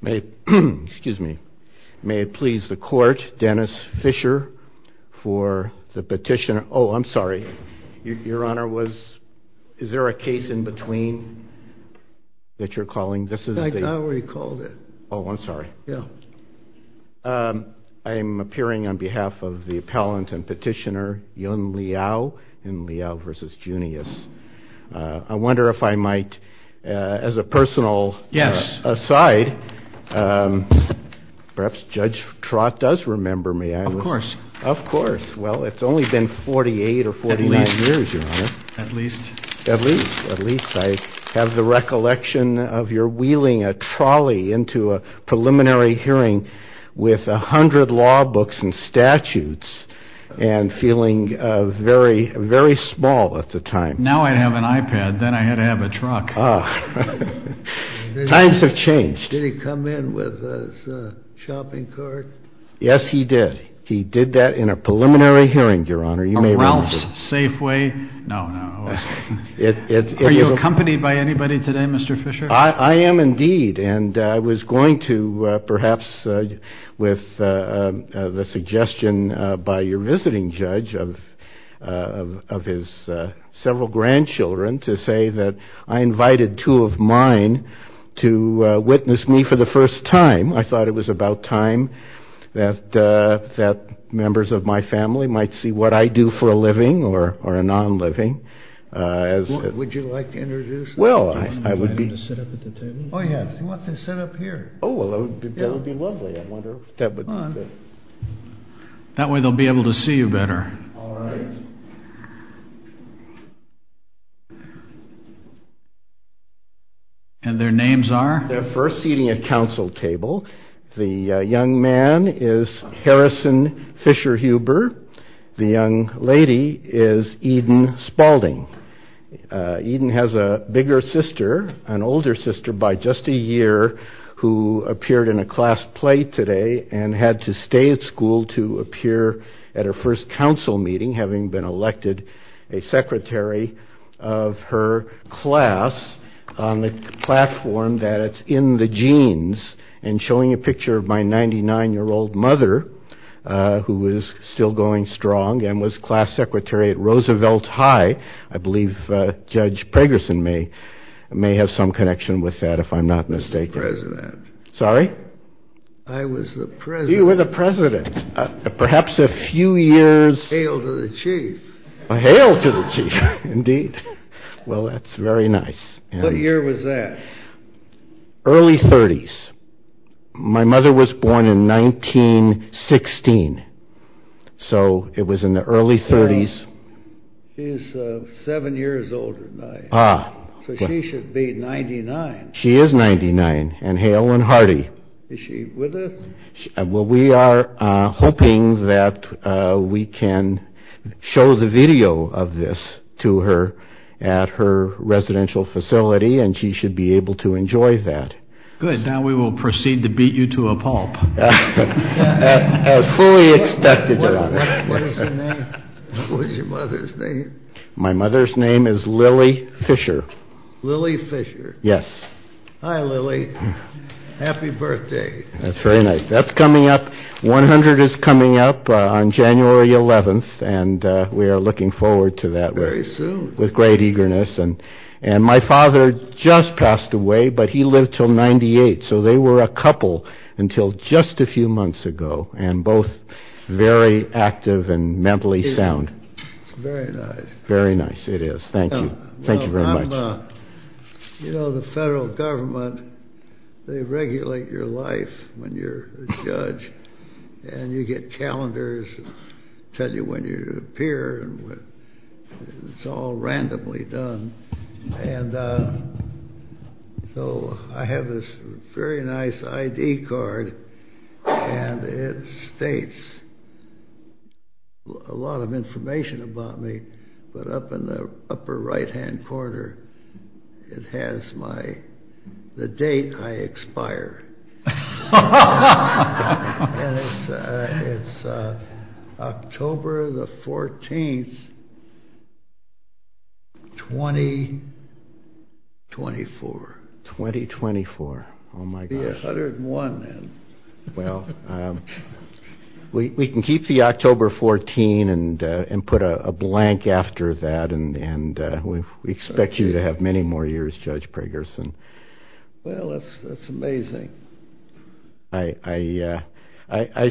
May it please the Court, Dennis Fischer, for the petitioner, oh, I'm sorry, Your Honor, is there a case in between that you're calling? This is the- I already called it. Oh, I'm sorry. Yeah. I'm appearing on behalf of the appellant and petitioner, Yun Liao, Yun Liao v. Junious. I wonder if I might, as a personal- Yes. Aside, perhaps Judge Trott does remember me. Of course. Of course. Well, it's only been 48 or 49 years, Your Honor. At least. At least. At least. I have the recollection of your wheeling a trolley into a preliminary hearing with a hundred law books and statutes and feeling very, very small at the time. Now I have an iPad. Then I had to have a truck. Times have changed. Did he come in with his shopping cart? Yes, he did. He did that in a preliminary hearing, Your Honor. You may remember. A Ralph's Safeway? No, no. Are you accompanied by anybody today, Mr. Fischer? I am indeed, and I was going to, perhaps with the suggestion by your visiting judge of his several grandchildren to say that I invited two of mine to witness me for the first time. I thought it was about time that members of my family might see what I do for a living or a non-living. Would you like to introduce them? Well, I would be- Do you want them to sit up at the table? Oh, yes. You want them to sit up here. Oh, that would be lovely. I wonder if that would- Come on. That way they'll be able to see you better. All right. And their names are? They're first seating at council table. The young man is Harrison Fischer-Huber. The young lady is Eden Spalding. Eden has a bigger sister, an older sister by just a year, who appeared in a class play and had to stay at school to appear at her first council meeting, having been elected a secretary of her class on the platform that it's in the jeans, and showing a picture of my 99-year-old mother, who is still going strong, and was class secretary at Roosevelt High. I believe Judge Pragerson may have some connection with that, if I'm not mistaken. Mr. President. Sorry? I was the president. You were the president. Perhaps a few years- Hail to the chief. Hail to the chief, indeed. Well, that's very nice. What year was that? Early 30s. My mother was born in 1916, so it was in the early 30s. She's seven years older than I am. Ah. So she should be 99. She is 99, and hail and hearty. Is she with us? Well, we are hoping that we can show the video of this to her at her residential facility, and she should be able to enjoy that. Good. Now we will proceed to beat you to a pulp. As fully expected, Your Honor. What is your mother's name? My mother's name is Lily Fisher. Lily Fisher. Yes. Hi, Lily. Happy birthday. That's very nice. That's coming up. 100 is coming up on January 11th, and we are looking forward to that. Very soon. With great eagerness. And my father just passed away, but he lived till 98. So they were a couple until just a few months ago, and both very active and mentally sound. It's very nice. Very nice, it is. Thank you. Thank you very much. You know, the federal government, they regulate your life when you're a judge, and you get calendars that tell you when you appear, and it's all randomly done. And so I have this very nice ID card, and it states a lot of information about me, but up in the upper right-hand corner, it has the date I expire. And it's October the 14th, 2024. 2024. Oh, my gosh. 101 then. Well, we can keep the October 14 and put a blank after that, and we expect you to have many more years, Judge Pragerson. Well, that's amazing. I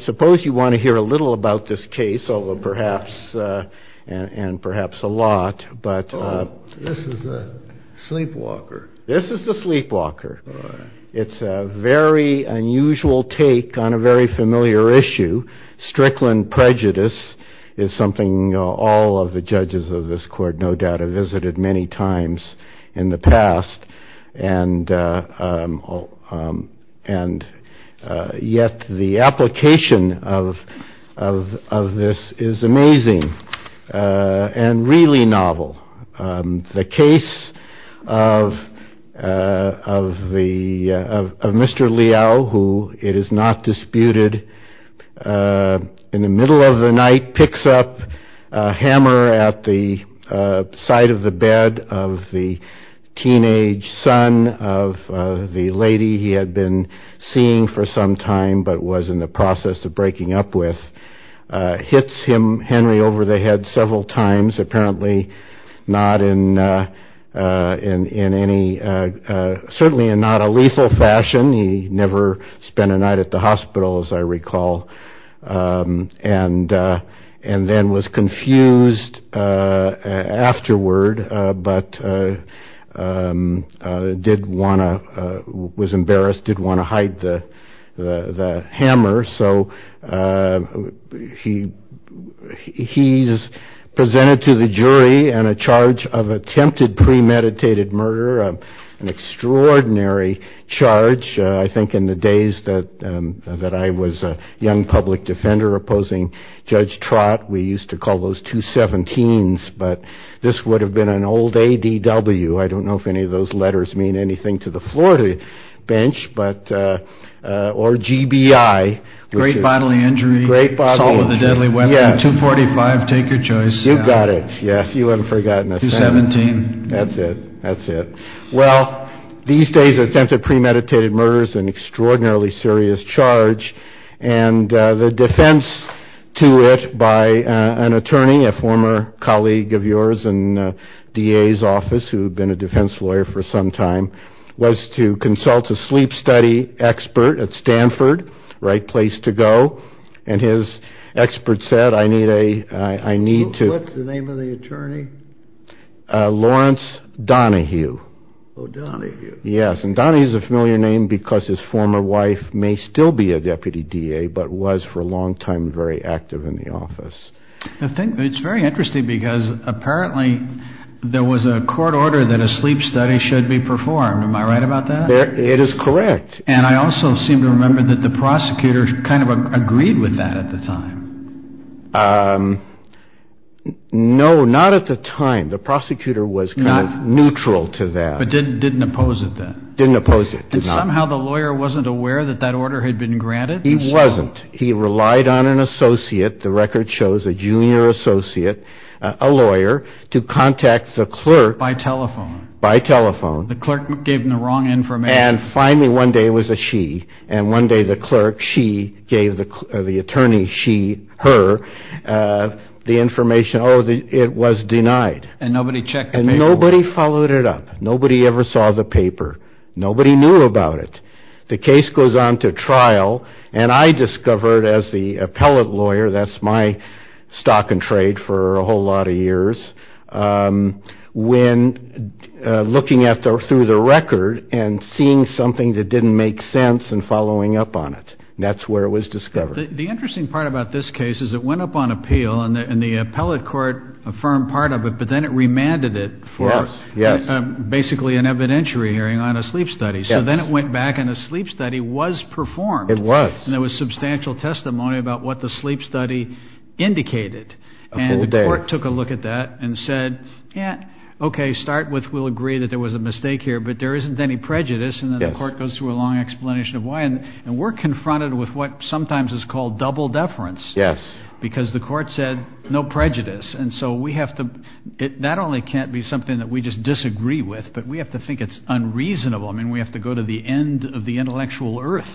suppose you want to hear a little about this case, perhaps, and perhaps a lot. Oh, this is the sleepwalker. This is the sleepwalker. It's a very unusual take on a very familiar issue. Strickland prejudice is something all of the judges of this court no doubt have visited many times in the past, and yet the application of this is amazing and really novel. The case of Mr. Liao, who it is not disputed, in the middle of the night, picks up a hammer at the side of the bed of the teenage son of the lady he had been seeing for some time but was in the process of breaking up with, hits him, Henry, over the head several times, apparently not in any, certainly in not a lethal fashion. He never spent a night at the hospital, as I recall, and then was confused afterward but did want to, was embarrassed, did want to hide the hammer. So he's presented to the jury on a charge of attempted premeditated murder, an extraordinary charge. I think in the days that I was a young public defender opposing Judge Trott, we used to call those 217s, but this would have been an old ADW. I don't know if any of those letters mean anything to the floor of the bench, or GBI. Great bodily injury. Great bodily injury. Assault with a deadly weapon. Yes. 245, take your choice. You've got it. Yes, you haven't forgotten. 217. That's it. That's it. Well, these days attempted premeditated murder is an extraordinarily serious charge, and the defense to it by an attorney, a former colleague of yours in DA's office, who had been a defense lawyer for some time, was to consult a sleep study expert at Stanford, the right place to go, and his expert said, I need to... What's the name of the attorney? Lawrence Donahue. Oh, Donahue. Yes, and Donahue is a familiar name because his former wife may still be a deputy DA, but was for a long time very active in the office. It's very interesting because apparently there was a court order that a sleep study should be performed. Am I right about that? It is correct. And I also seem to remember that the prosecutor kind of agreed with that at the time. No, not at the time. The prosecutor was kind of neutral to that. But didn't oppose it then? Didn't oppose it. And somehow the lawyer wasn't aware that that order had been granted? He wasn't. He relied on an associate. The record shows a junior associate, a lawyer, to contact the clerk... By telephone. By telephone. The clerk gave him the wrong information. And finally one day it was a she, and one day the clerk, she, gave the attorney, she, her, the information. Oh, it was denied. And nobody checked the paperwork. Nobody followed it up. Nobody ever saw the paper. Nobody knew about it. The case goes on to trial, and I discovered as the appellate lawyer, that's my stock and trade for a whole lot of years, when looking through the record and seeing something that didn't make sense and following up on it. That's where it was discovered. The interesting part about this case is it went up on appeal, and the appellate court affirmed part of it, but then it remanded it for basically an evidentiary hearing on a sleep study. So then it went back, and a sleep study was performed. It was. And there was substantial testimony about what the sleep study indicated. A full day. And the court took a look at that and said, yeah, okay, start with we'll agree that there was a mistake here, but there isn't any prejudice, and then the court goes through a long explanation of why. And we're confronted with what sometimes is called double deference. Yes. Because the court said no prejudice. And so we have to, it not only can't be something that we just disagree with, but we have to think it's unreasonable. I mean, we have to go to the end of the intellectual earth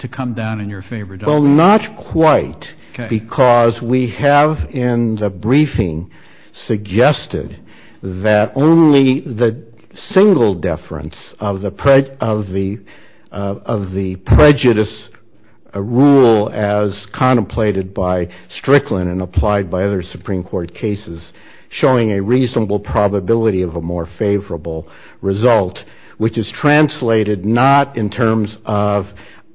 to come down in your favor. Well, not quite. Okay. Because we have in the briefing suggested that only the single deference of the prejudice rule as contemplated by Strickland and applied by other Supreme Court cases showing a reasonable probability of a more favorable result, which is translated not in terms of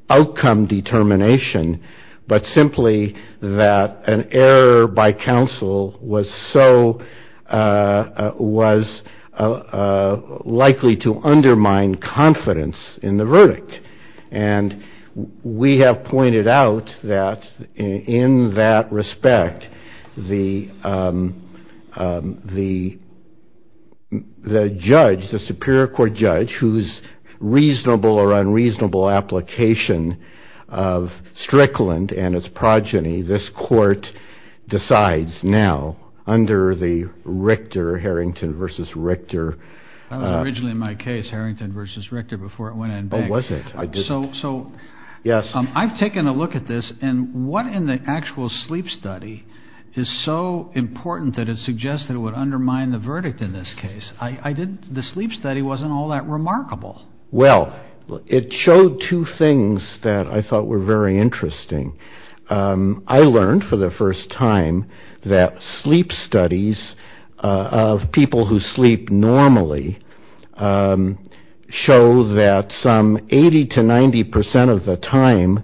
outcome determination, but simply that an error by counsel was so, was likely to undermine confidence in the verdict. And we have pointed out that in that respect, the judge, the Superior Court judge, whose reasonable or unreasonable application of Strickland and its progeny, this court decides now under the Richter, Harrington v. Richter. That was originally my case, Harrington v. Richter, before it went in banks. So I've taken a look at this and what in the actual sleep study is so important that it suggests that it would undermine the verdict in this case? The sleep study wasn't all that remarkable. Well, it showed two things that I thought were very interesting. I learned for the first time that sleep studies of people who sleep normally show that some 80 to 90 percent of the time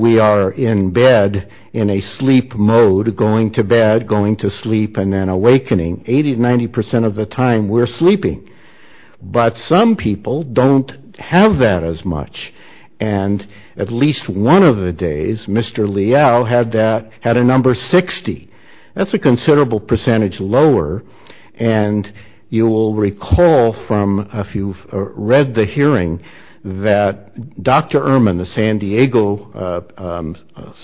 we are in bed, in a sleep mode, going to bed, going to sleep, and then awakening. 80 to 90 percent of the time we're sleeping. But some people don't have that as much. And at least one of the days, Mr. Liao had that, had a number 60. That's a considerable percentage lower. And you will recall from if you've read the hearing that Dr. Ehrman, the San Diego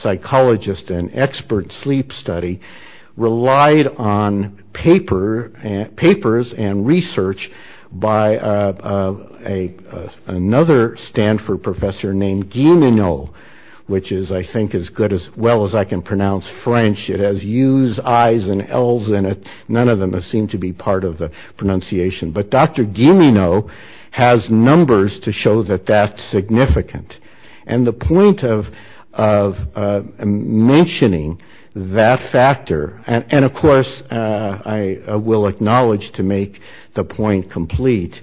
psychologist and expert sleep study, relied on papers and research by another Stanford professor named Gimeno, which is, I think, as good as well as I can pronounce French. It has U's, I's and L's in it. None of them seem to be part of the pronunciation. But Dr. Gimeno has numbers to show that that's significant. And the point of mentioning that factor, and of course, I will acknowledge to make the point complete,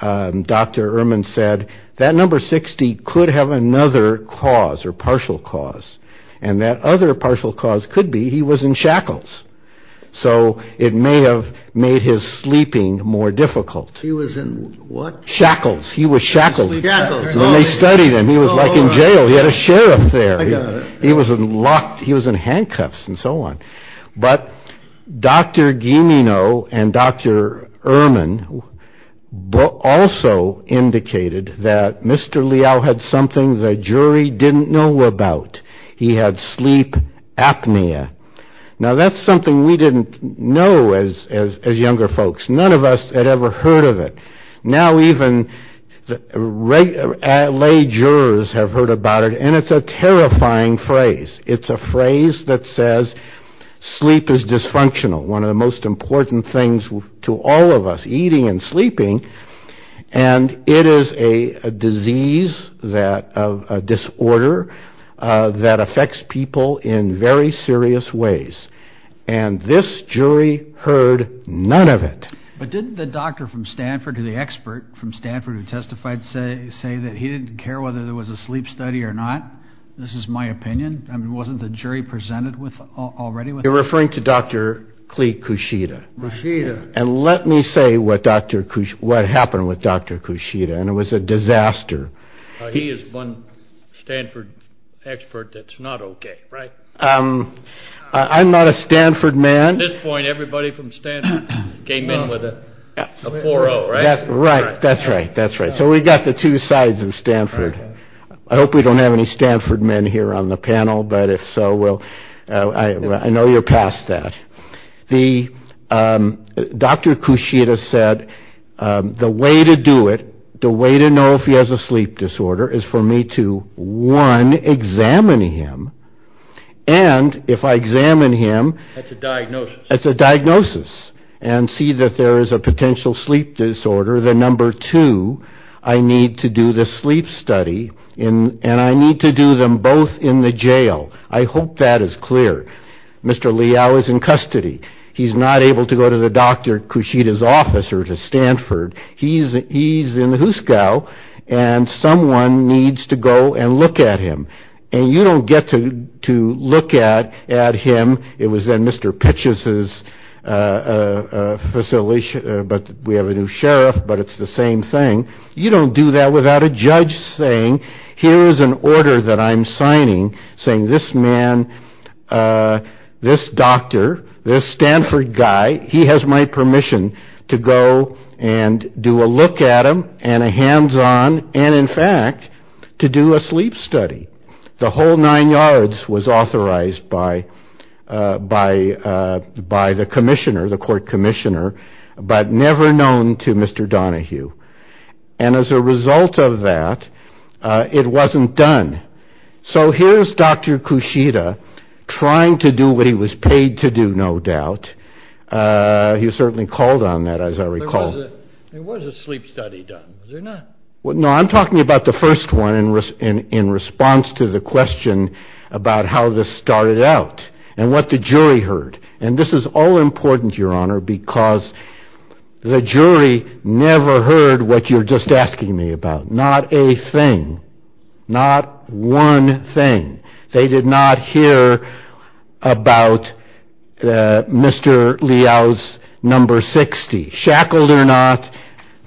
Dr. Ehrman said that number 60 could have another cause or partial cause. And that other partial cause could be he was in shackles. So it may have made his sleeping more difficult. He was in what? Shackles. He was shackled. When they studied him, he was like in jail. He had a sheriff there. He was in handcuffs and so on. But Dr. Gimeno and Dr. Ehrman also indicated that Mr. Liao had something the jury didn't know about. He had sleep apnea. Now, that's something we didn't know as younger folks. None of us had ever heard of it. Now even lay jurors have heard about it. And it's a terrifying phrase. It's a phrase that says sleep is dysfunctional, one of the most important things to all of us, eating and sleeping. And it is a disease, a disorder that affects people in very serious ways. And this jury heard none of it. But didn't the doctor from Stanford or the expert from Stanford who testified say that he didn't care whether there was a sleep study or not? This is my opinion. Wasn't the jury presented with already? You're referring to Dr. Klee Kushida. Kushida. And let me say what happened with Dr. Kushida. And it was a disaster. He is one Stanford expert that's not OK, right? I'm not a Stanford man. At this point, everybody from Stanford came in with a 4-0, right? That's right. That's right. That's right. So we got the two sides of Stanford. I hope we don't have any Stanford men here on the panel. But if so, well, I know you're past that. Dr. Kushida said the way to do it, the way to know if he has a sleep disorder is for me to, one, examine him. And if I examine him. That's a diagnosis. That's a diagnosis. And see that there is a potential sleep disorder. Then, number two, I need to do the sleep study. And I need to do them both in the jail. I hope that is clear. Mr. Liao is in custody. He's not able to go to the Dr. Kushida's office or to Stanford. He's in the Huskow. And someone needs to go and look at him. And you don't get to look at him. It was then Mr. Pitchess's facility. But we have a new sheriff. But it's the same thing. You don't do that without a judge saying, here is an order that I'm signing saying this man, this doctor, this Stanford guy, he has my permission to go and do a look at him and a hands-on and, in fact, to do a sleep study. The whole nine yards was authorized by the commissioner, the court commissioner, but never known to Mr. Donahue. And as a result of that, it wasn't done. So here's Dr. Kushida trying to do what he was paid to do, no doubt. He was certainly called on that, as I recall. There was a sleep study done, was there not? No, I'm talking about the first one in response to the question about how this started out and what the jury heard. And this is all important, Your Honor, because the jury never heard what you're just asking me about. Not a thing. Not one thing. They did not hear about Mr. Liao's number 60. Shackled or not,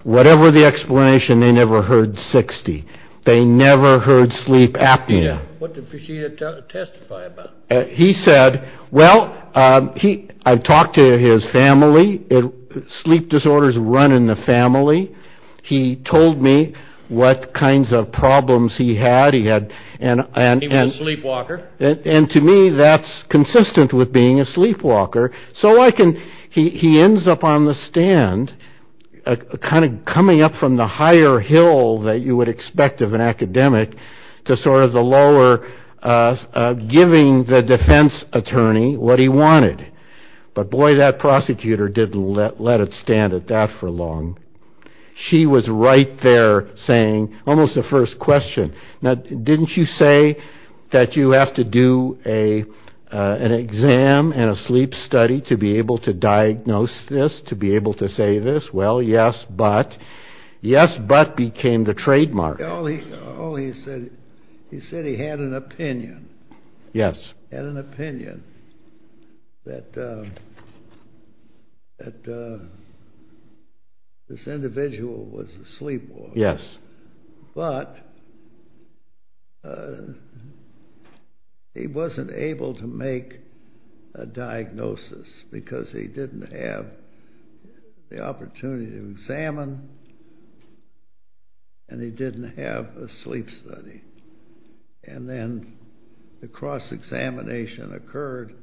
whatever the explanation, they never heard 60. They never heard sleep apnea. What did Kushida testify about? He said, well, I talked to his family. Sleep disorders run in the family. He told me what kinds of problems he had. He was a sleepwalker. And to me, that's consistent with being a sleepwalker. So he ends up on the stand, kind of coming up from the higher hill that you would expect of an academic, to sort of the lower, giving the defense attorney what he wanted. But boy, that prosecutor didn't let it stand at that for long. She was right there saying almost the first question. Now, didn't you say that you have to do an exam and a sleep study to be able to diagnose this, to be able to say this? Well, yes, but. Yes, but became the trademark. He said he had an opinion. Yes. Had an opinion that this individual was a sleepwalker. Yes. But he wasn't able to make a diagnosis because he didn't have the opportunity to examine, and he didn't have a sleep study. And then the cross-examination occurred,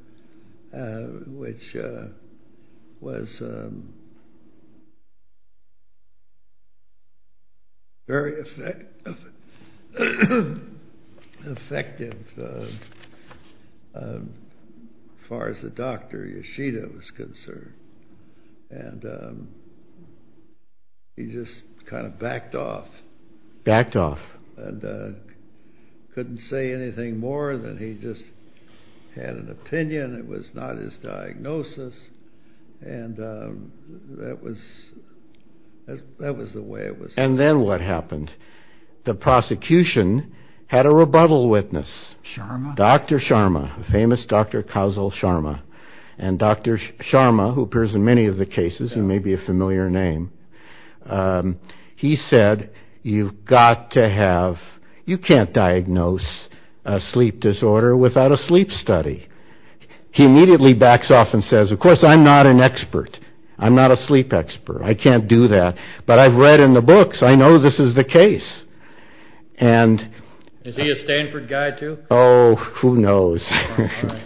which was very effective as far as the doctor, Yoshida, was concerned. And he just kind of backed off. Backed off. And couldn't say anything more than he just had an opinion. It was not his diagnosis. And that was the way it was. And then what happened? The prosecution had a rebuttal witness. Sharma? Dr. Sharma, the famous Dr. Kazel Sharma. And Dr. Sharma, who appears in many of the cases and may be a familiar name, he said, you've got to have, you can't diagnose a sleep disorder without a sleep study. He immediately backs off and says, of course, I'm not an expert. I'm not a sleep expert. I can't do that. But I've read in the books. I know this is the case. And is he a Stanford guy too? Oh, who knows?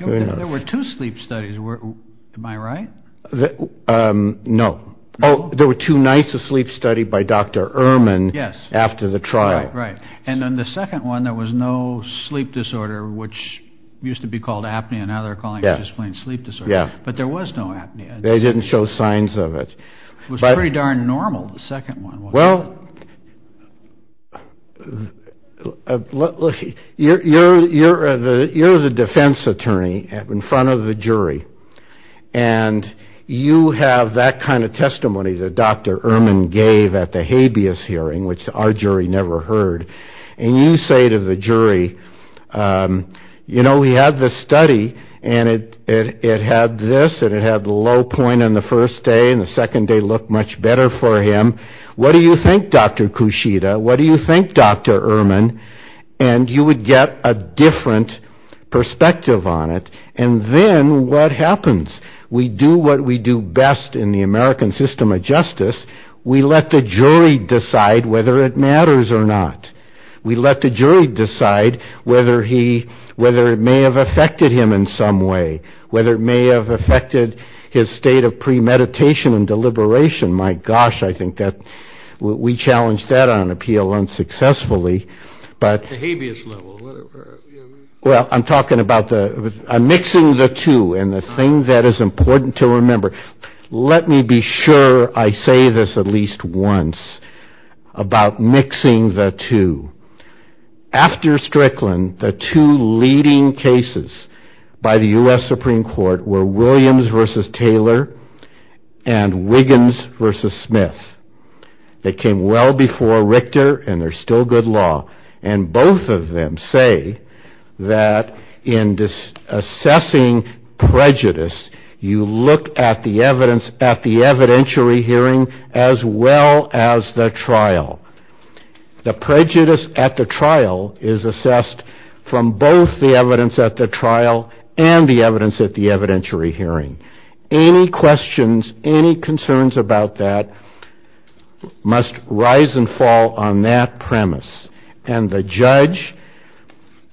There were two sleep studies. Am I right? No. Oh, there were two nights of sleep study by Dr. Ehrman after the trial. Right. And then the second one, there was no sleep disorder, which used to be called apnea. Now they're calling it just plain sleep disorder. But there was no apnea. They didn't show signs of it. It was pretty darn normal, the second one. Well, you're the defense attorney in front of the jury. And you have that kind of testimony that Dr. Ehrman gave at the habeas hearing, which our jury never heard. And you say to the jury, you know, we had this study, and it had this, and it had the low point on the first day, and the second day looked much better for him. What do you think, Dr. Kushida? What do you think, Dr. Ehrman? And you would get a different perspective on it. And then what happens? We do what we do best in the American system of justice. We let the jury decide whether it matters or not. We let the jury decide whether it may have affected him in some way, whether it may have affected his state of premeditation and deliberation. My gosh, I think that we challenged that on appeal unsuccessfully. The habeas level, whatever. Well, I'm talking about mixing the two, and the thing that is important to remember, let me be sure I say this at least once about mixing the two. After Strickland, the two leading cases by the U.S. Supreme Court were Williams v. Taylor and Wiggins v. Smith. They came well before Richter, and they're still good law. And both of them say that in assessing prejudice, you look at the evidence at the evidentiary hearing as well as the trial. The prejudice at the trial is assessed from both the evidence at the trial and the evidence at the evidentiary hearing. Any questions, any concerns about that must rise and fall on that premise. And the judge,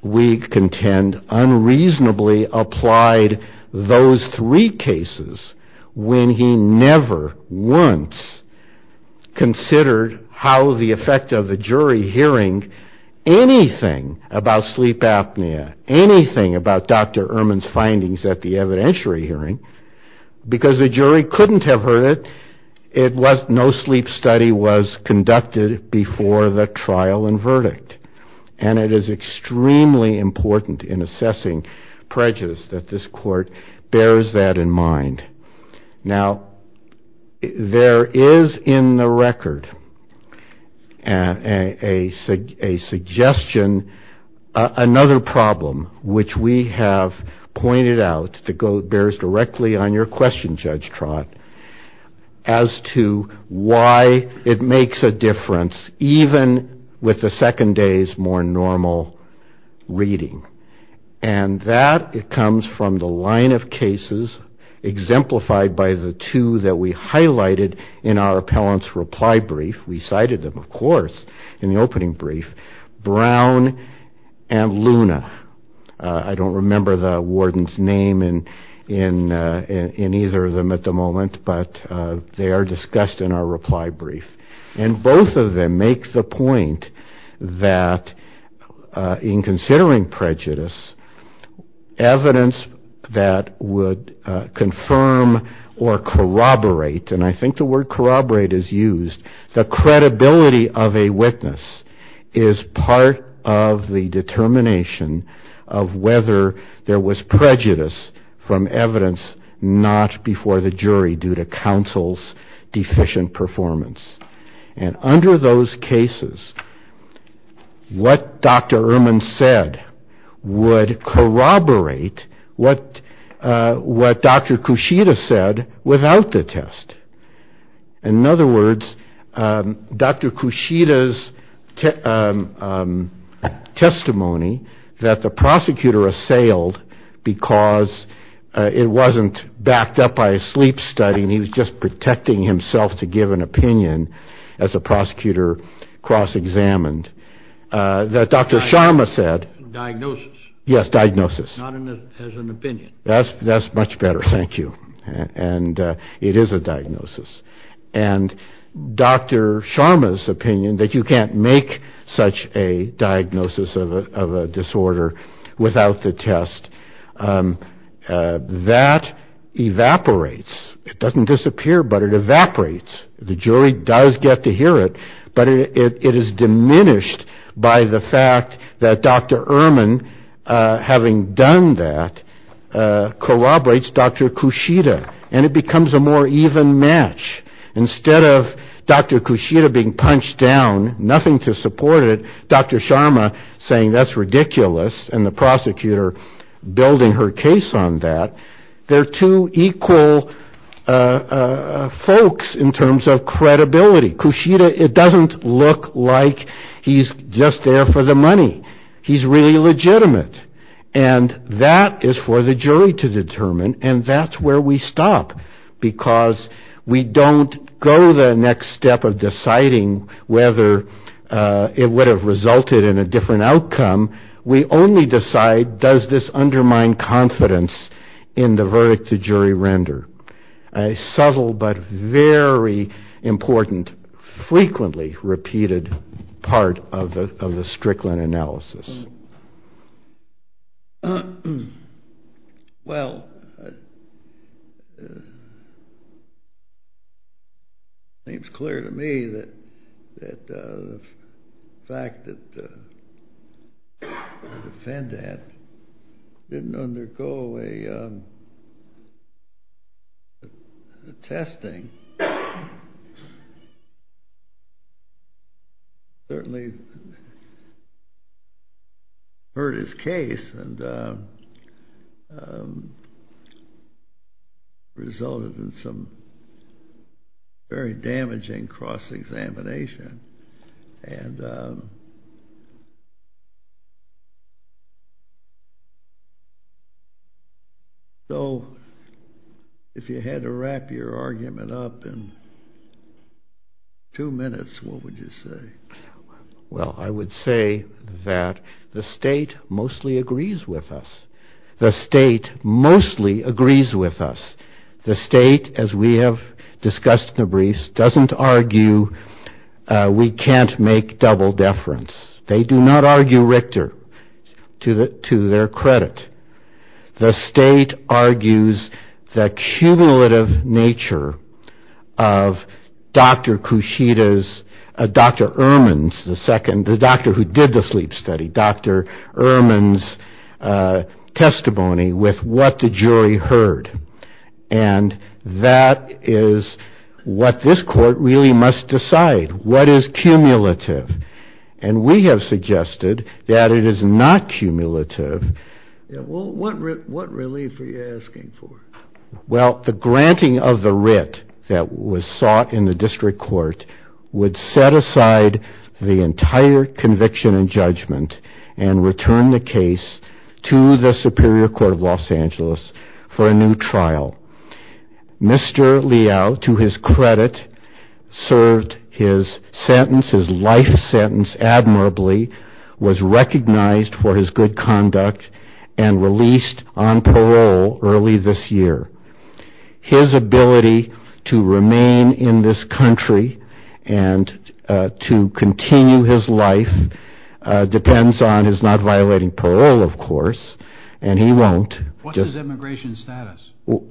we contend, unreasonably applied those three cases when he never once considered how the effect of the jury hearing anything about sleep apnea, anything about Dr. Ehrman's findings at the evidentiary hearing, because the jury couldn't have heard it. No sleep study was conducted before the trial and verdict. And it is extremely important in assessing prejudice that this court bears that in mind. Now, there is in the record a suggestion, another problem, which we have pointed out that bears directly on your question, Judge Trott, as to why it makes a difference even with the second day's more normal reading. And that comes from the line of cases exemplified by the two that we highlighted in our appellant's reply brief. We cited them, of course, in the opening brief, Brown and Luna. I don't remember the warden's name in either of them at the moment, but they are discussed in our reply brief. And both of them make the point that in considering prejudice, evidence that would confirm or corroborate, and I think the word corroborate is used, the credibility of a witness is part of the determination of whether there was prejudice from evidence not before the jury due to counsel's deficient performance. And under those cases, what Dr. Erman said would corroborate what Dr. Kushida said without the test. In other words, Dr. Kushida's testimony that the prosecutor assailed because it wasn't backed up by a sleep study, and he was just protecting himself to give an opinion as a prosecutor cross-examined. That Dr. Sharma said. Diagnosis. Yes, diagnosis. Not as an opinion. Thank you. And it is a diagnosis. And Dr. Sharma's opinion that you can't make such a diagnosis of a disorder without the test, that evaporates. It doesn't disappear, but it evaporates. The jury does get to hear it, but it is diminished by the fact that Dr. Erman, having done that, corroborates Dr. Kushida. And it becomes a more even match. Instead of Dr. Kushida being punched down, nothing to support it, Dr. Sharma saying that's ridiculous, and the prosecutor building her case on that, they're two equal folks in terms of credibility. Kushida, it doesn't look like he's just there for the money. He's really legitimate. And that is for the jury to determine, and that's where we stop. Because we don't go the next step of deciding whether it would have resulted in a different outcome. We only decide does this undermine confidence in the verdict the jury render. A subtle, but very important, frequently repeated part of the Strickland analysis. Well, it seems clear to me that the fact that the defendant didn't undergo a testing, certainly hurt his case and resulted in some very damaging cross-examination. And so if you had to wrap your argument up in two minutes, what would you say? Well, I would say that the state mostly agrees with us. The state mostly agrees with us. The state, as we have discussed in the briefs, doesn't argue we can't make double deference. They do not argue Richter to their credit. The state argues the cumulative nature of Dr. Kushida's, Dr. Ehrman's, the second, And that is what this court really must decide. What is cumulative? And we have suggested that it is not cumulative. Well, what relief are you asking for? Well, the granting of the writ that was sought in the district court would set aside the entire conviction and judgment and return the case to the Superior Court of Los Angeles for a new trial. Mr. Liao, to his credit, served his sentence, his life sentence, admirably, was recognized for his good conduct and released on parole early this year. His ability to remain in this country and to continue his life depends on his not violating parole, of course, and he won't. What's his immigration status?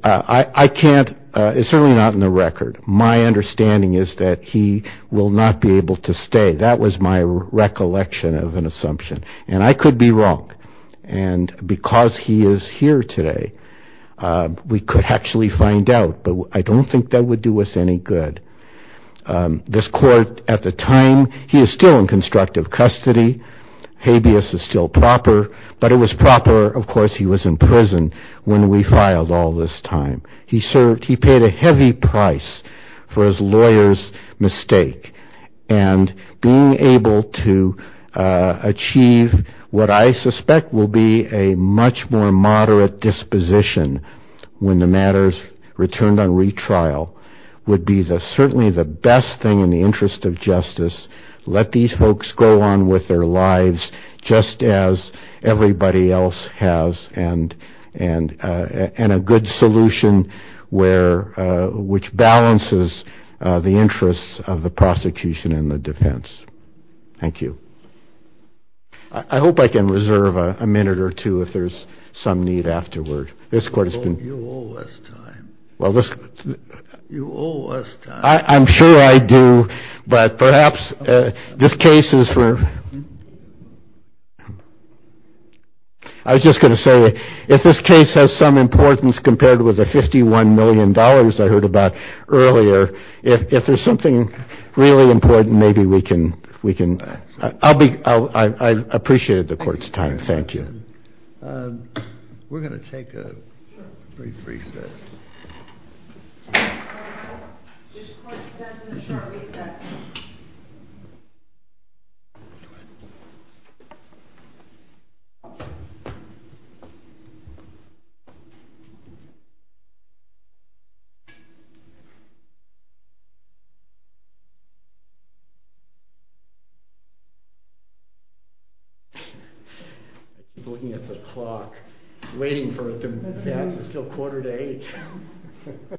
I can't, it's certainly not in the record. My understanding is that he will not be able to stay. That was my recollection of an assumption, and I could be wrong. And because he is here today, we could actually find out, but I don't think that would do us any good. This court, at the time, he is still in constructive custody. Habeas is still proper, but it was proper, of course, he was in prison when we filed all this time. He paid a heavy price for his lawyer's mistake, and being able to achieve what I suspect will be a much more moderate disposition when the matters returned on retrial would be certainly the best thing in the interest of justice, let these folks go on with their lives just as everybody else has, and a good solution which balances the interests of the prosecution and the defense. Thank you. I hope I can reserve a minute or two if there's some need afterward. You owe us time. I'm sure I do, but perhaps this case is for—I was just going to say, if this case has some importance compared with the $51 million I heard about earlier, if there's something really important, maybe we can—I appreciated the court's time. Thank you. We're going to take a brief recess. Court is adjourned in a short recess. Looking at the clock, waiting for it to pass, it's still quarter to eight. Thank you.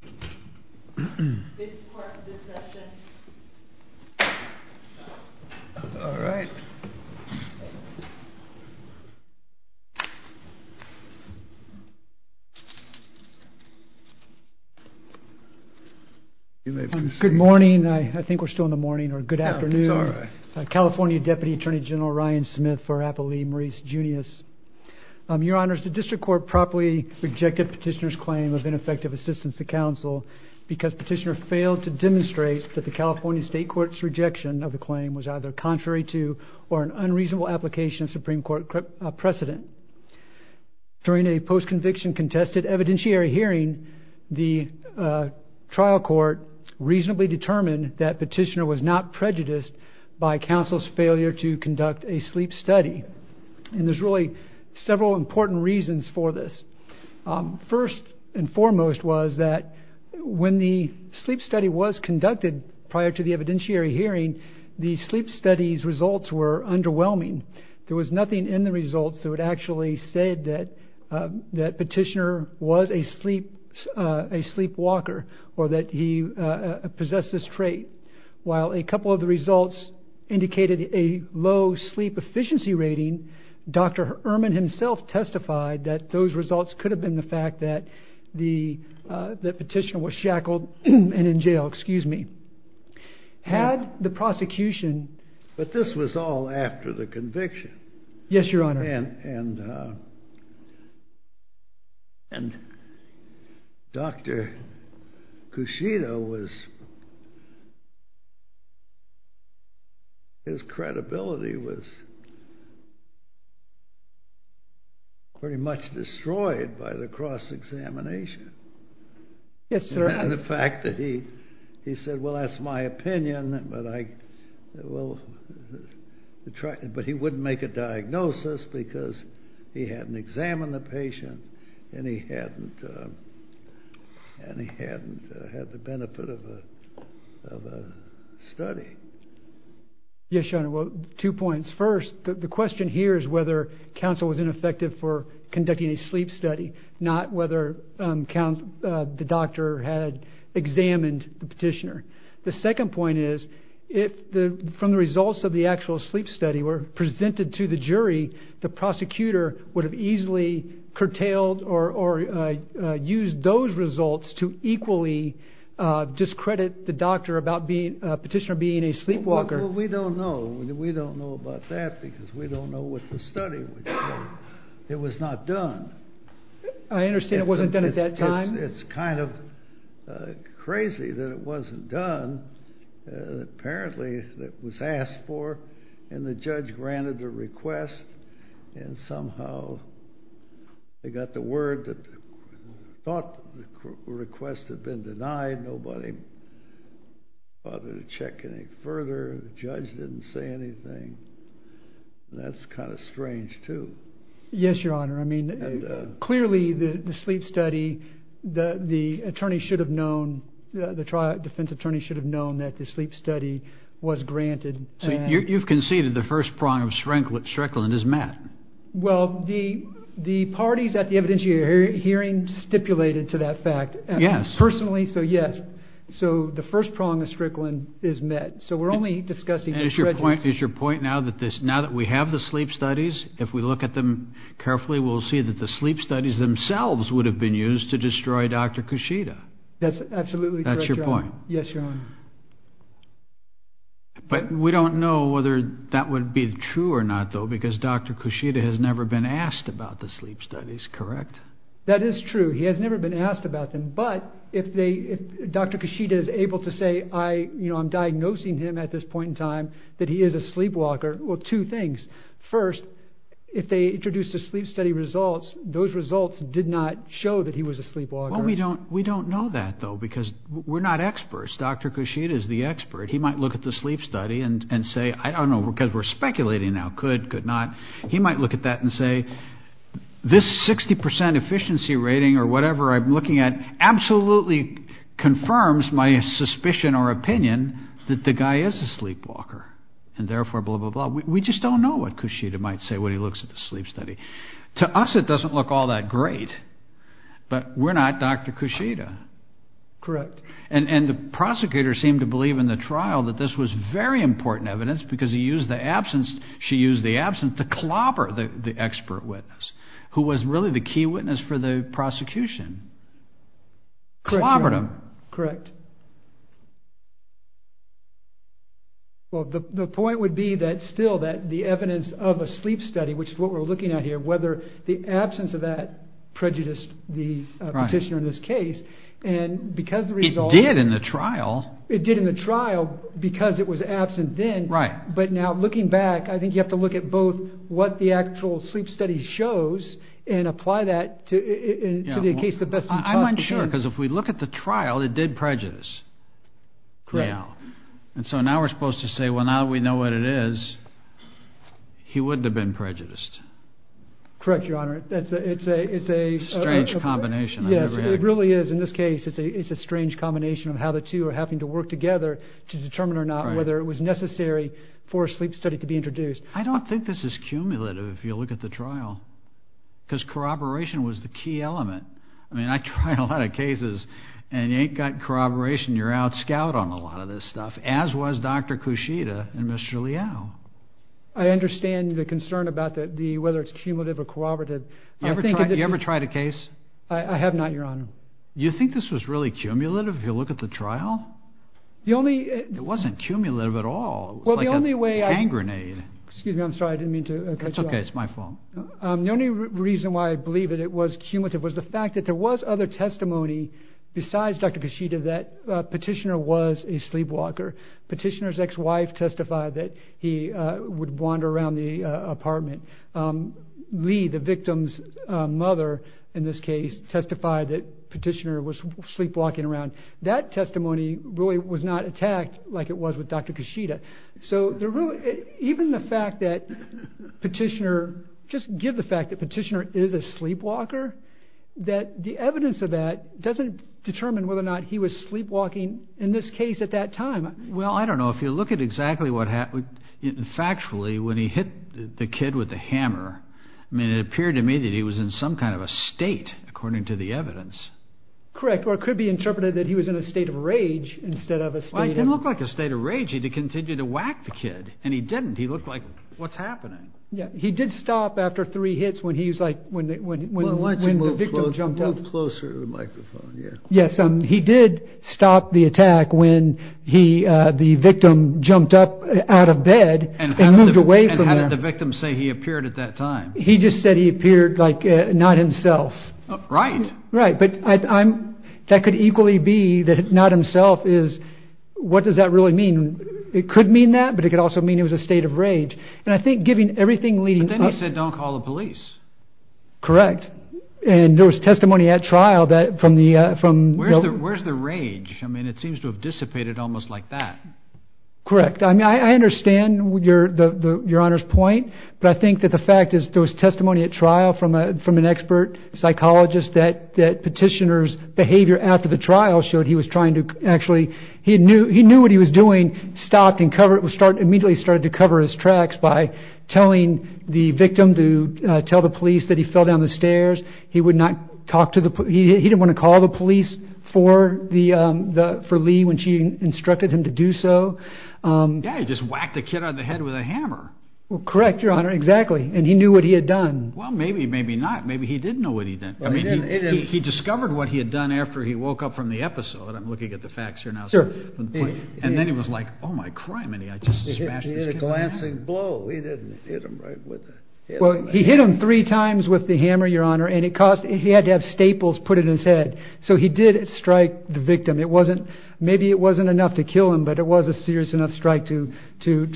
Thank you. Thank you. Thank you. Thank you. Thank you. Thank you. Thank you. Thank you. Thank you. Thank you. Thank you. Thank you. Thank you. Thank you. Thank you. Thank you. This is a test. This is a test. This is a test. This is a test. This is a test. This is a test. Good morning. I think we are still in the morning. Good afternoon. California deputy general Ryan Smith. rejection of the claim for Marise Junius. The district court properly rejected petitioner's claim of ineffective assistance to counsel because petitioner failed to demonstrate that the California state court's rejection of the claim was either contrary to or an unreasonable application of Supreme Court precedent. During a postconviction contested evidentiary hearing, the trial court reasonably determined that petitioner was not prejudiced by counsel's failure to conduct a sleep study. And there's really several important reasons for this. First and foremost was that when the sleep study was conducted prior to the evidentiary hearing, the sleep study's results were underwhelming. There was nothing in the results that would actually say that petitioner was a sleepwalker or that he possessed this trait. While a couple of the results indicated a low sleep efficiency rating, Dr. Ehrman himself testified that those results could have been the fact that the petitioner was shackled and in jail. Excuse me. Had the prosecution... But this was all after the conviction. Yes, Your Honor. And Dr. Cushito was... His credibility was... pretty much destroyed by the cross-examination. Yes, sir. And the fact that he said, well, that's my opinion, but I... But he wouldn't make a diagnosis because he hadn't examined the patient and he hadn't... And he hadn't had the benefit of a study. Yes, Your Honor. Well, two points. First, the question here is whether counsel was ineffective for conducting a sleep study, not whether the doctor had examined the petitioner. The second point is, if from the results of the actual sleep study were presented to the jury, the prosecutor would have easily curtailed or used those results to equally discredit the doctor about the petitioner being a sleepwalker. Well, we don't know. We don't know about that because we don't know what the study would say. It was not done. I understand it wasn't done at that time. It's kind of crazy that it wasn't done. Apparently it was asked for and the judge granted the request and somehow they got the word that they thought the request had been granted. I didn't bother to check any further. The judge didn't say anything. That's kind of strange, too. Yes, Your Honor. I mean, clearly the sleep study, the attorney should have known, the defense attorney should have known that the sleep study was granted. You've conceded the first prong of Shrekland is met. Well, the parties at the evidence hearing stipulated to that fact. Personally, so yes. So the first prong of Shrekland is met. So we're only discussing the prejudice. Is your point now that we have the sleep studies, if we look at them carefully, we'll see that the sleep studies themselves would have been used to destroy Dr. Kushida? That's absolutely correct, Your Honor. That's your point? Yes, Your Honor. But we don't know whether that would be true or not, though, because Dr. Kushida has never been asked about the sleep studies, correct? That is true. He has never been asked about them. But if Dr. Kushida is able to say, you know, I'm diagnosing him at this point in time that he is a sleepwalker, well, two things. First, if they introduced the sleep study results, those results did not show that he was a sleepwalker. Well, we don't know that, though, because we're not experts. Dr. Kushida is the expert. He might look at the sleep study and say, I don't know, because we're speculating now, could, could not. He might look at that and say, this 60% efficiency rating or whatever I'm looking at absolutely confirms my suspicion or opinion that the guy is a sleepwalker, and therefore, blah, blah, blah. We just don't know what Kushida might say when he looks at the sleep study. To us, it doesn't look all that great, but we're not Dr. Kushida. Correct. And the prosecutor seemed to believe in the trial that this was very important evidence because he used the absence, she used the absence, the clobber, the expert witness, who was really the key witness for the prosecution, clobbered him. Correct. Well, the point would be that still that the evidence of a sleep study, which is what we're looking at here, whether the absence of that prejudiced the petitioner in this case, and because the results. It did in the trial. It did in the trial because it was absent then. Right. But now looking back, I think you have to look at both what the actual sleep study shows and apply that to the case the best you can. I'm unsure because if we look at the trial, it did prejudice. Correct. And so now we're supposed to say, well, now that we know what it is, he wouldn't have been prejudiced. Correct, Your Honor. It's a strange combination. Yes, it really is. In this case, it's a strange combination of how the two are having to work together to determine or not whether it was necessary for a sleep study to be introduced. I don't think this is cumulative if you look at the trial because corroboration was the key element. I mean, I tried a lot of cases, and you ain't got corroboration. You're outscout on a lot of this stuff, as was Dr. Cushita and Mr. Liao. I understand the concern about whether it's cumulative or corroborative. You ever tried a case? I have not, Your Honor. You think this was really cumulative if you look at the trial? It wasn't cumulative at all. It was like a gangrenade. Excuse me. I'm sorry. I didn't mean to cut you off. That's okay. It's my fault. The only reason why I believe that it was cumulative was the fact that there was other testimony besides Dr. Cushita that Petitioner was a sleepwalker. Petitioner's ex-wife testified that he would wander around the apartment. Lee, the victim's mother, in this case, testified that Petitioner was sleepwalking around. That testimony really was not attacked like it was with Dr. Cushita. So even the fact that Petitioner, just give the fact that Petitioner is a sleepwalker, that the evidence of that doesn't determine whether or not he was sleepwalking in this case at that time. Well, I don't know. If you look at exactly what happened, factually, when he hit the kid with the hammer, it appeared to me that he was in some kind of a state, according to the evidence. Correct. Or it could be interpreted that he was in a state of rage instead of a state of- Well, he didn't look like a state of rage. He continued to whack the kid, and he didn't. He looked like, what's happening? Yeah. He did stop after three hits when the victim jumped up. Move closer to the microphone. Yeah. Yes. He did stop the attack when the victim jumped up out of bed and moved away from him. And how did the victim say he appeared at that time? He just said he appeared like not himself. Right. Right. But that could equally be that not himself is, what does that really mean? It could mean that, but it could also mean it was a state of rage. And I think given everything leading up- But then he said, don't call the police. Correct. And there was testimony at trial that from the- Where's the rage? I mean, it seems to have dissipated almost like that. Correct. I mean, I understand your Honor's point, but I think that the fact is there was testimony at trial from an expert psychologist that petitioner's behavior after the trial showed he was trying to actually-he knew what he was doing, stopped and immediately started to cover his tracks by telling the victim to tell the police that he fell down the stairs. He would not talk to the-he didn't want to call the police for Lee when she instructed him to do so. Yeah, he just whacked the kid on the head with a hammer. Correct, Your Honor. Exactly. And he knew what he had done. Well, maybe, maybe not. Maybe he didn't know what he did. I mean, he discovered what he had done after he woke up from the episode. I'm looking at the facts here now. And then he was like, oh, my crime. And he just smashed his head. A glancing blow. He didn't hit him right with a- Well, he hit him three times with the hammer, Your Honor, and it caused-he had to have staples put in his head. So he did strike the victim. It wasn't-maybe it wasn't enough to kill him, but it was a serious enough strike to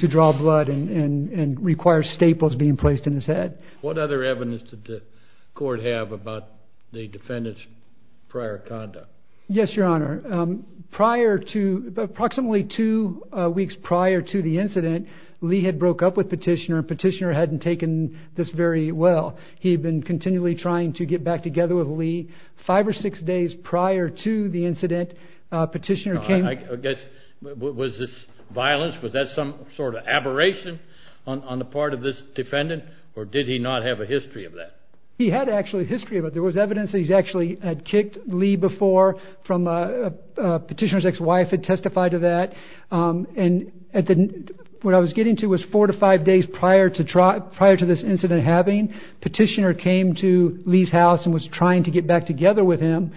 draw blood and require staples being placed in his head. What other evidence did the court have about the defendant's prior conduct? Yes, Your Honor. Prior to-approximately two weeks prior to the incident, Lee had broke up with Petitioner, and Petitioner hadn't taken this very well. He had been continually trying to get back together with Lee. Five or six days prior to the incident, Petitioner came- Was this violence? Was that some sort of aberration on the part of this defendant? Or did he not have a history of that? He had actually a history of it. There was evidence that he actually had kicked Lee before from-Petitioner's ex-wife had testified to that. And what I was getting to was four to five days prior to this incident happening, Petitioner came to Lee's house and was trying to get back together with him.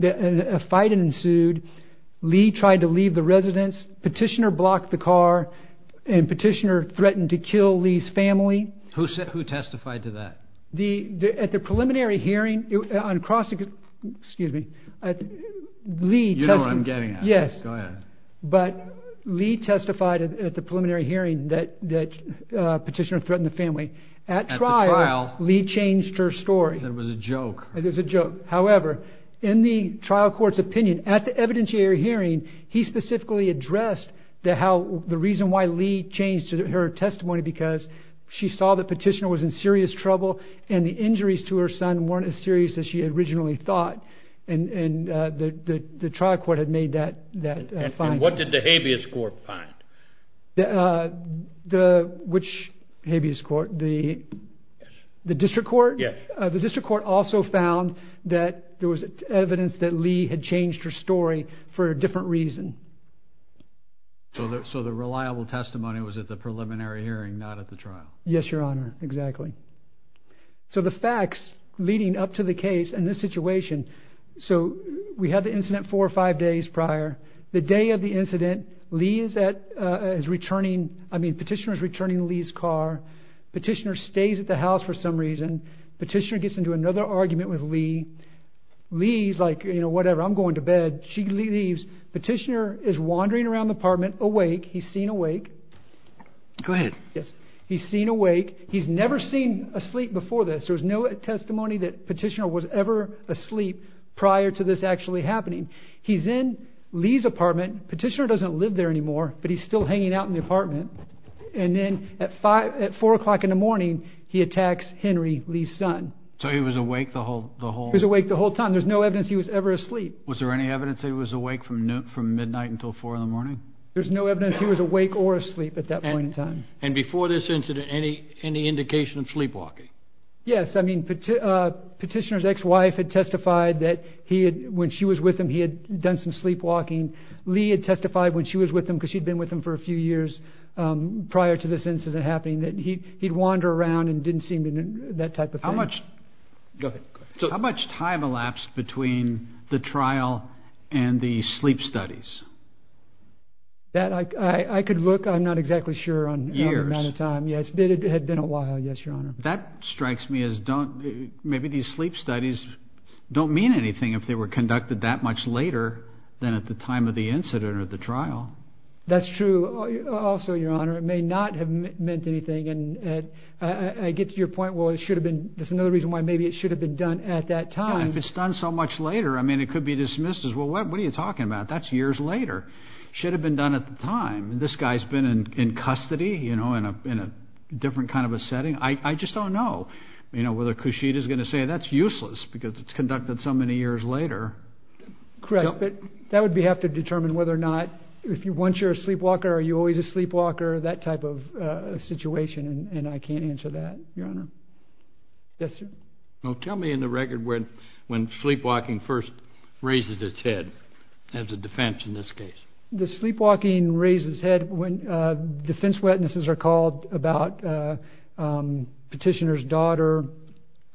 A fight ensued. Lee tried to leave the residence. Petitioner blocked the car, and Petitioner threatened to kill Lee's family. Who testified to that? At the preliminary hearing, on cross-excuse me, Lee testified- You know what I'm getting at. Yes. Go ahead. But Lee testified at the preliminary hearing that Petitioner threatened the family. At trial, Lee changed her story. It was a joke. It was a joke. However, in the trial court's opinion, at the evidentiary hearing, he specifically addressed the reason why Lee changed her testimony because she saw that Petitioner was in serious trouble and the injuries to her son weren't as serious as she originally thought. And the trial court had made that finding. And what did the habeas court find? Which habeas court? The district court? Yes. The district court also found that there was evidence that Lee had changed her story for a different reason. So the reliable testimony was at the preliminary hearing, not at the trial? Yes, Your Honor. Exactly. So the facts leading up to the case in this situation. So we had the incident four or five days prior. The day of the incident, Petitioner is returning Lee's car. Petitioner stays at the house for some reason. Petitioner gets into another argument with Lee. Lee's like, you know, whatever, I'm going to bed. She leaves. Petitioner is wandering around the apartment awake. He's seen awake. Go ahead. Yes. He's seen awake. He's never seen asleep before this. There was no testimony that Petitioner was ever asleep prior to this actually happening. He's in Lee's apartment. Petitioner doesn't live there anymore, but he's still hanging out in the apartment. And then at four o'clock in the morning, he attacks Henry, Lee's son. So he was awake the whole time? He was awake the whole time. There's no evidence he was ever asleep. Was there any evidence that he was awake from midnight until four in the morning? There's no evidence he was awake or asleep at that point in time. And before this incident, any indication of sleepwalking? Yes. I mean, Petitioner's ex-wife had testified that when she was with him, he had done some sleepwalking. Lee had testified when she was with him, because she'd been with him for a few years prior to this incident happening, that he'd wander around and didn't seem to do that type of thing. Go ahead. How much time elapsed between the trial and the sleep studies? I could look. I'm not exactly sure on the amount of time. Years? Yes. It had been a while, yes, Your Honor. That strikes me as maybe these sleep studies don't mean anything if they were conducted that much later than at the time of the incident or the trial. That's true. Also, Your Honor, it may not have meant anything. And I get to your point, well, it should have been. That's another reason why maybe it should have been done at that time. If it's done so much later, I mean, it could be dismissed as, well, what are you talking about? That's years later. It should have been done at the time. This guy's been in custody, you know, in a different kind of a setting. I just don't know, you know, whether Cushita's going to say that's useless because it's conducted so many years later. Correct. But that would have to determine whether or not, once you're a sleepwalker, are you always a sleepwalker, that type of situation. And I can't answer that, Your Honor. Yes, sir. Well, tell me in the record when sleepwalking first raises its head as a defense in this case. The sleepwalking raises its head when defense witnesses are called about petitioner's daughter,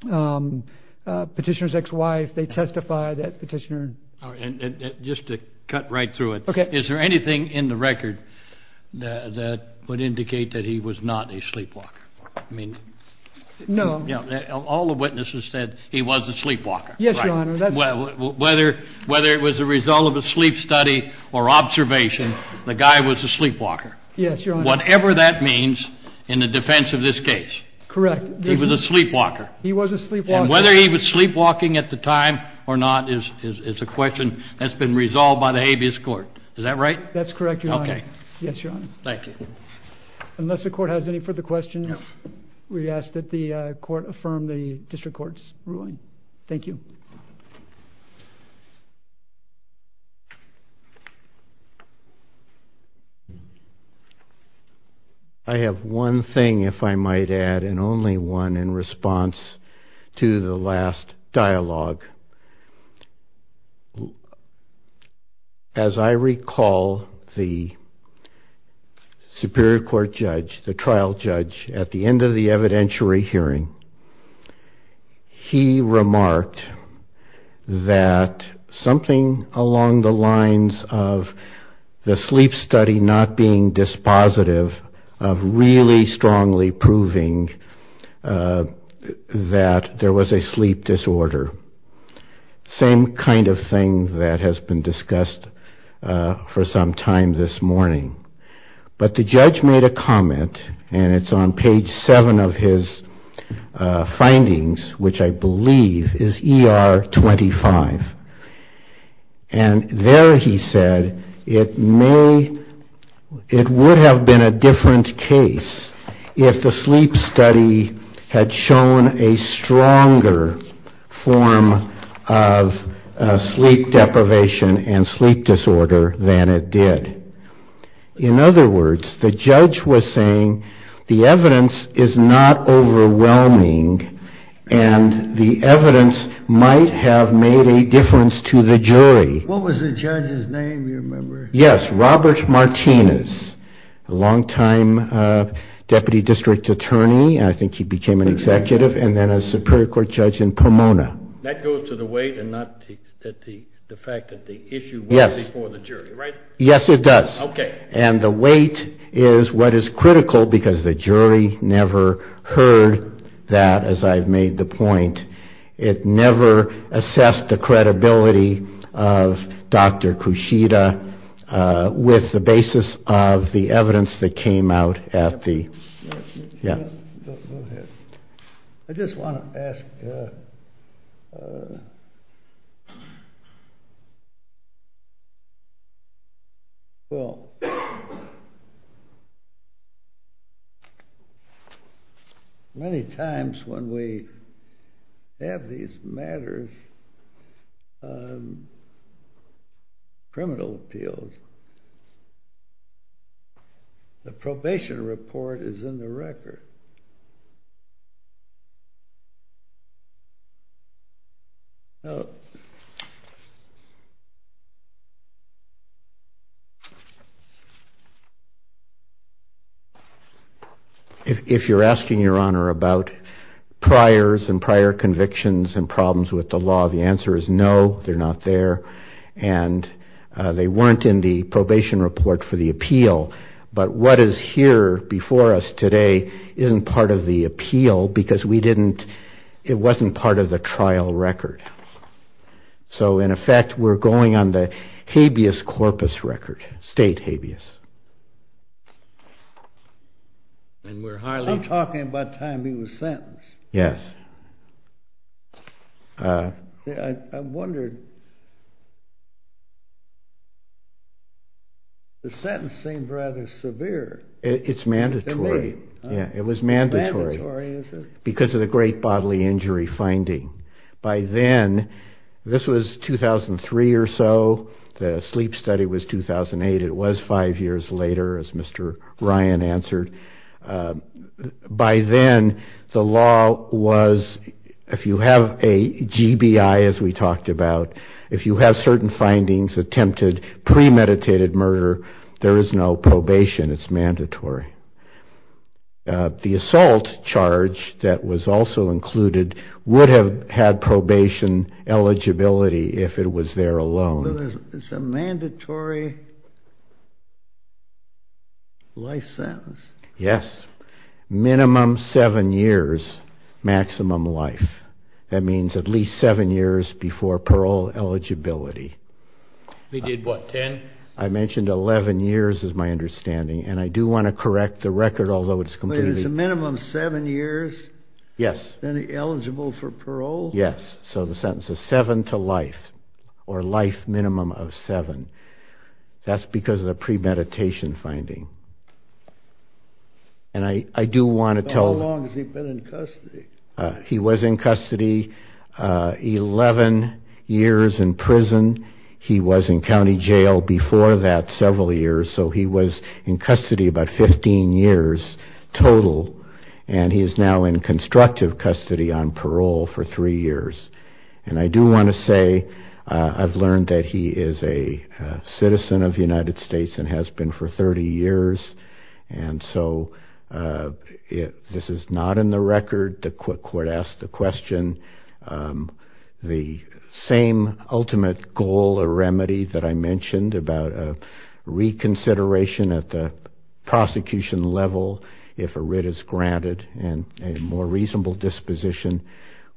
petitioner's ex-wife. They testify that petitioner. Just to cut right through it. Okay. Is there anything in the record that would indicate that he was not a sleepwalker? No. All the witnesses said he was a sleepwalker. Yes, Your Honor. Whether it was a result of a sleep study or observation, the guy was a sleepwalker. Yes, Your Honor. Whatever that means in the defense of this case. Correct. He was a sleepwalker. He was a sleepwalker. And whether he was sleepwalking at the time or not is a question that's been resolved by the habeas court. Is that right? That's correct, Your Honor. Okay. Yes, Your Honor. Thank you. Unless the court has any further questions, we ask that the court affirm the district court's ruling. Thank you. I have one thing, if I might add, and only one in response to the last dialogue. As I recall, the superior court judge, the trial judge, at the end of the evidentiary hearing, he remarked that something along the lines of the sleep study not being dispositive of really strongly proving that there was a sleep disorder. Same kind of thing that has been discussed for some time this morning. But the judge made a comment, and it's on page seven of his findings, which I believe is ER 25. And there he said it would have been a different case if the sleep study had shown a stronger form of sleep deprivation and sleep disorder than it did. In other words, the judge was saying the evidence is not overwhelming and the evidence might have made a difference to the jury. What was the judge's name? Do you remember? Yes, Robert Martinez, a longtime deputy district attorney, and I think he became an executive, and then a superior court judge in Pomona. That goes to the weight and not the fact that the issue was before the jury, right? Yes, it does. Okay. And the weight is what is critical because the jury never heard that, as I've made the point. It never assessed the credibility of Dr. Kushida with the basis of the evidence that came out at the… Go ahead. I just want to ask… Well, many times when we have these matters, criminal appeals, the probation report is in the record. If you're asking, Your Honor, about priors and prior convictions and problems with the law, the answer is no, they're not there, and they weren't in the probation report for the appeal. But what is here before us today is the evidence that the jury isn't part of the appeal because it wasn't part of the trial record. So, in effect, we're going on the habeas corpus record, state habeas. I'm talking about time he was sentenced. Yes. I wondered, the sentence seemed rather severe to me. It was mandatory because of the great bodily injury finding. By then, this was 2003 or so. The sleep study was 2008. It was five years later, as Mr. Ryan answered. By then, the law was, if you have a GBI, as we talked about, if you have certain findings, attempted premeditated murder, there is no probation. It's mandatory. The assault charge that was also included would have had probation eligibility if it was there alone. It's a mandatory life sentence. Yes. Minimum seven years, maximum life. That means at least seven years before parole eligibility. They did what, ten? I mentioned 11 years is my understanding, and I do want to correct the record, although it's completely- It's a minimum seven years? Yes. Then eligible for parole? Yes. So the sentence is seven to life, or life minimum of seven. That's because of the premeditation finding. And I do want to tell- How long has he been in custody? He was in custody 11 years in prison. He was in county jail before that several years, so he was in custody about 15 years total, and he is now in constructive custody on parole for three years. And I do want to say I've learned that he is a citizen of the United States and has been for 30 years, and so this is not in the record. The court asked the question. The same ultimate goal or remedy that I mentioned about reconsideration at the prosecution level if a writ is granted and a more reasonable disposition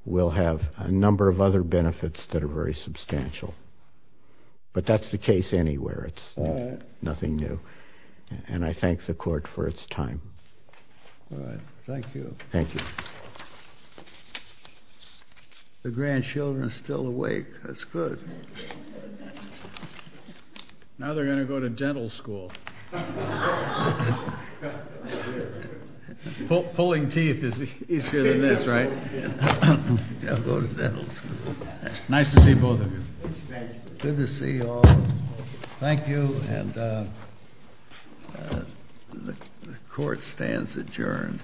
will have a number of other benefits that are very substantial. But that's the case anywhere. It's nothing new. And I thank the court for its time. All right. Thank you. Thank you. The grandchildren are still awake. That's good. Now they're going to go to dental school. Pulling teeth is easier than this, right? They'll go to dental school. Nice to see both of you. Good to see you all. Thank you, and the court stands adjourned.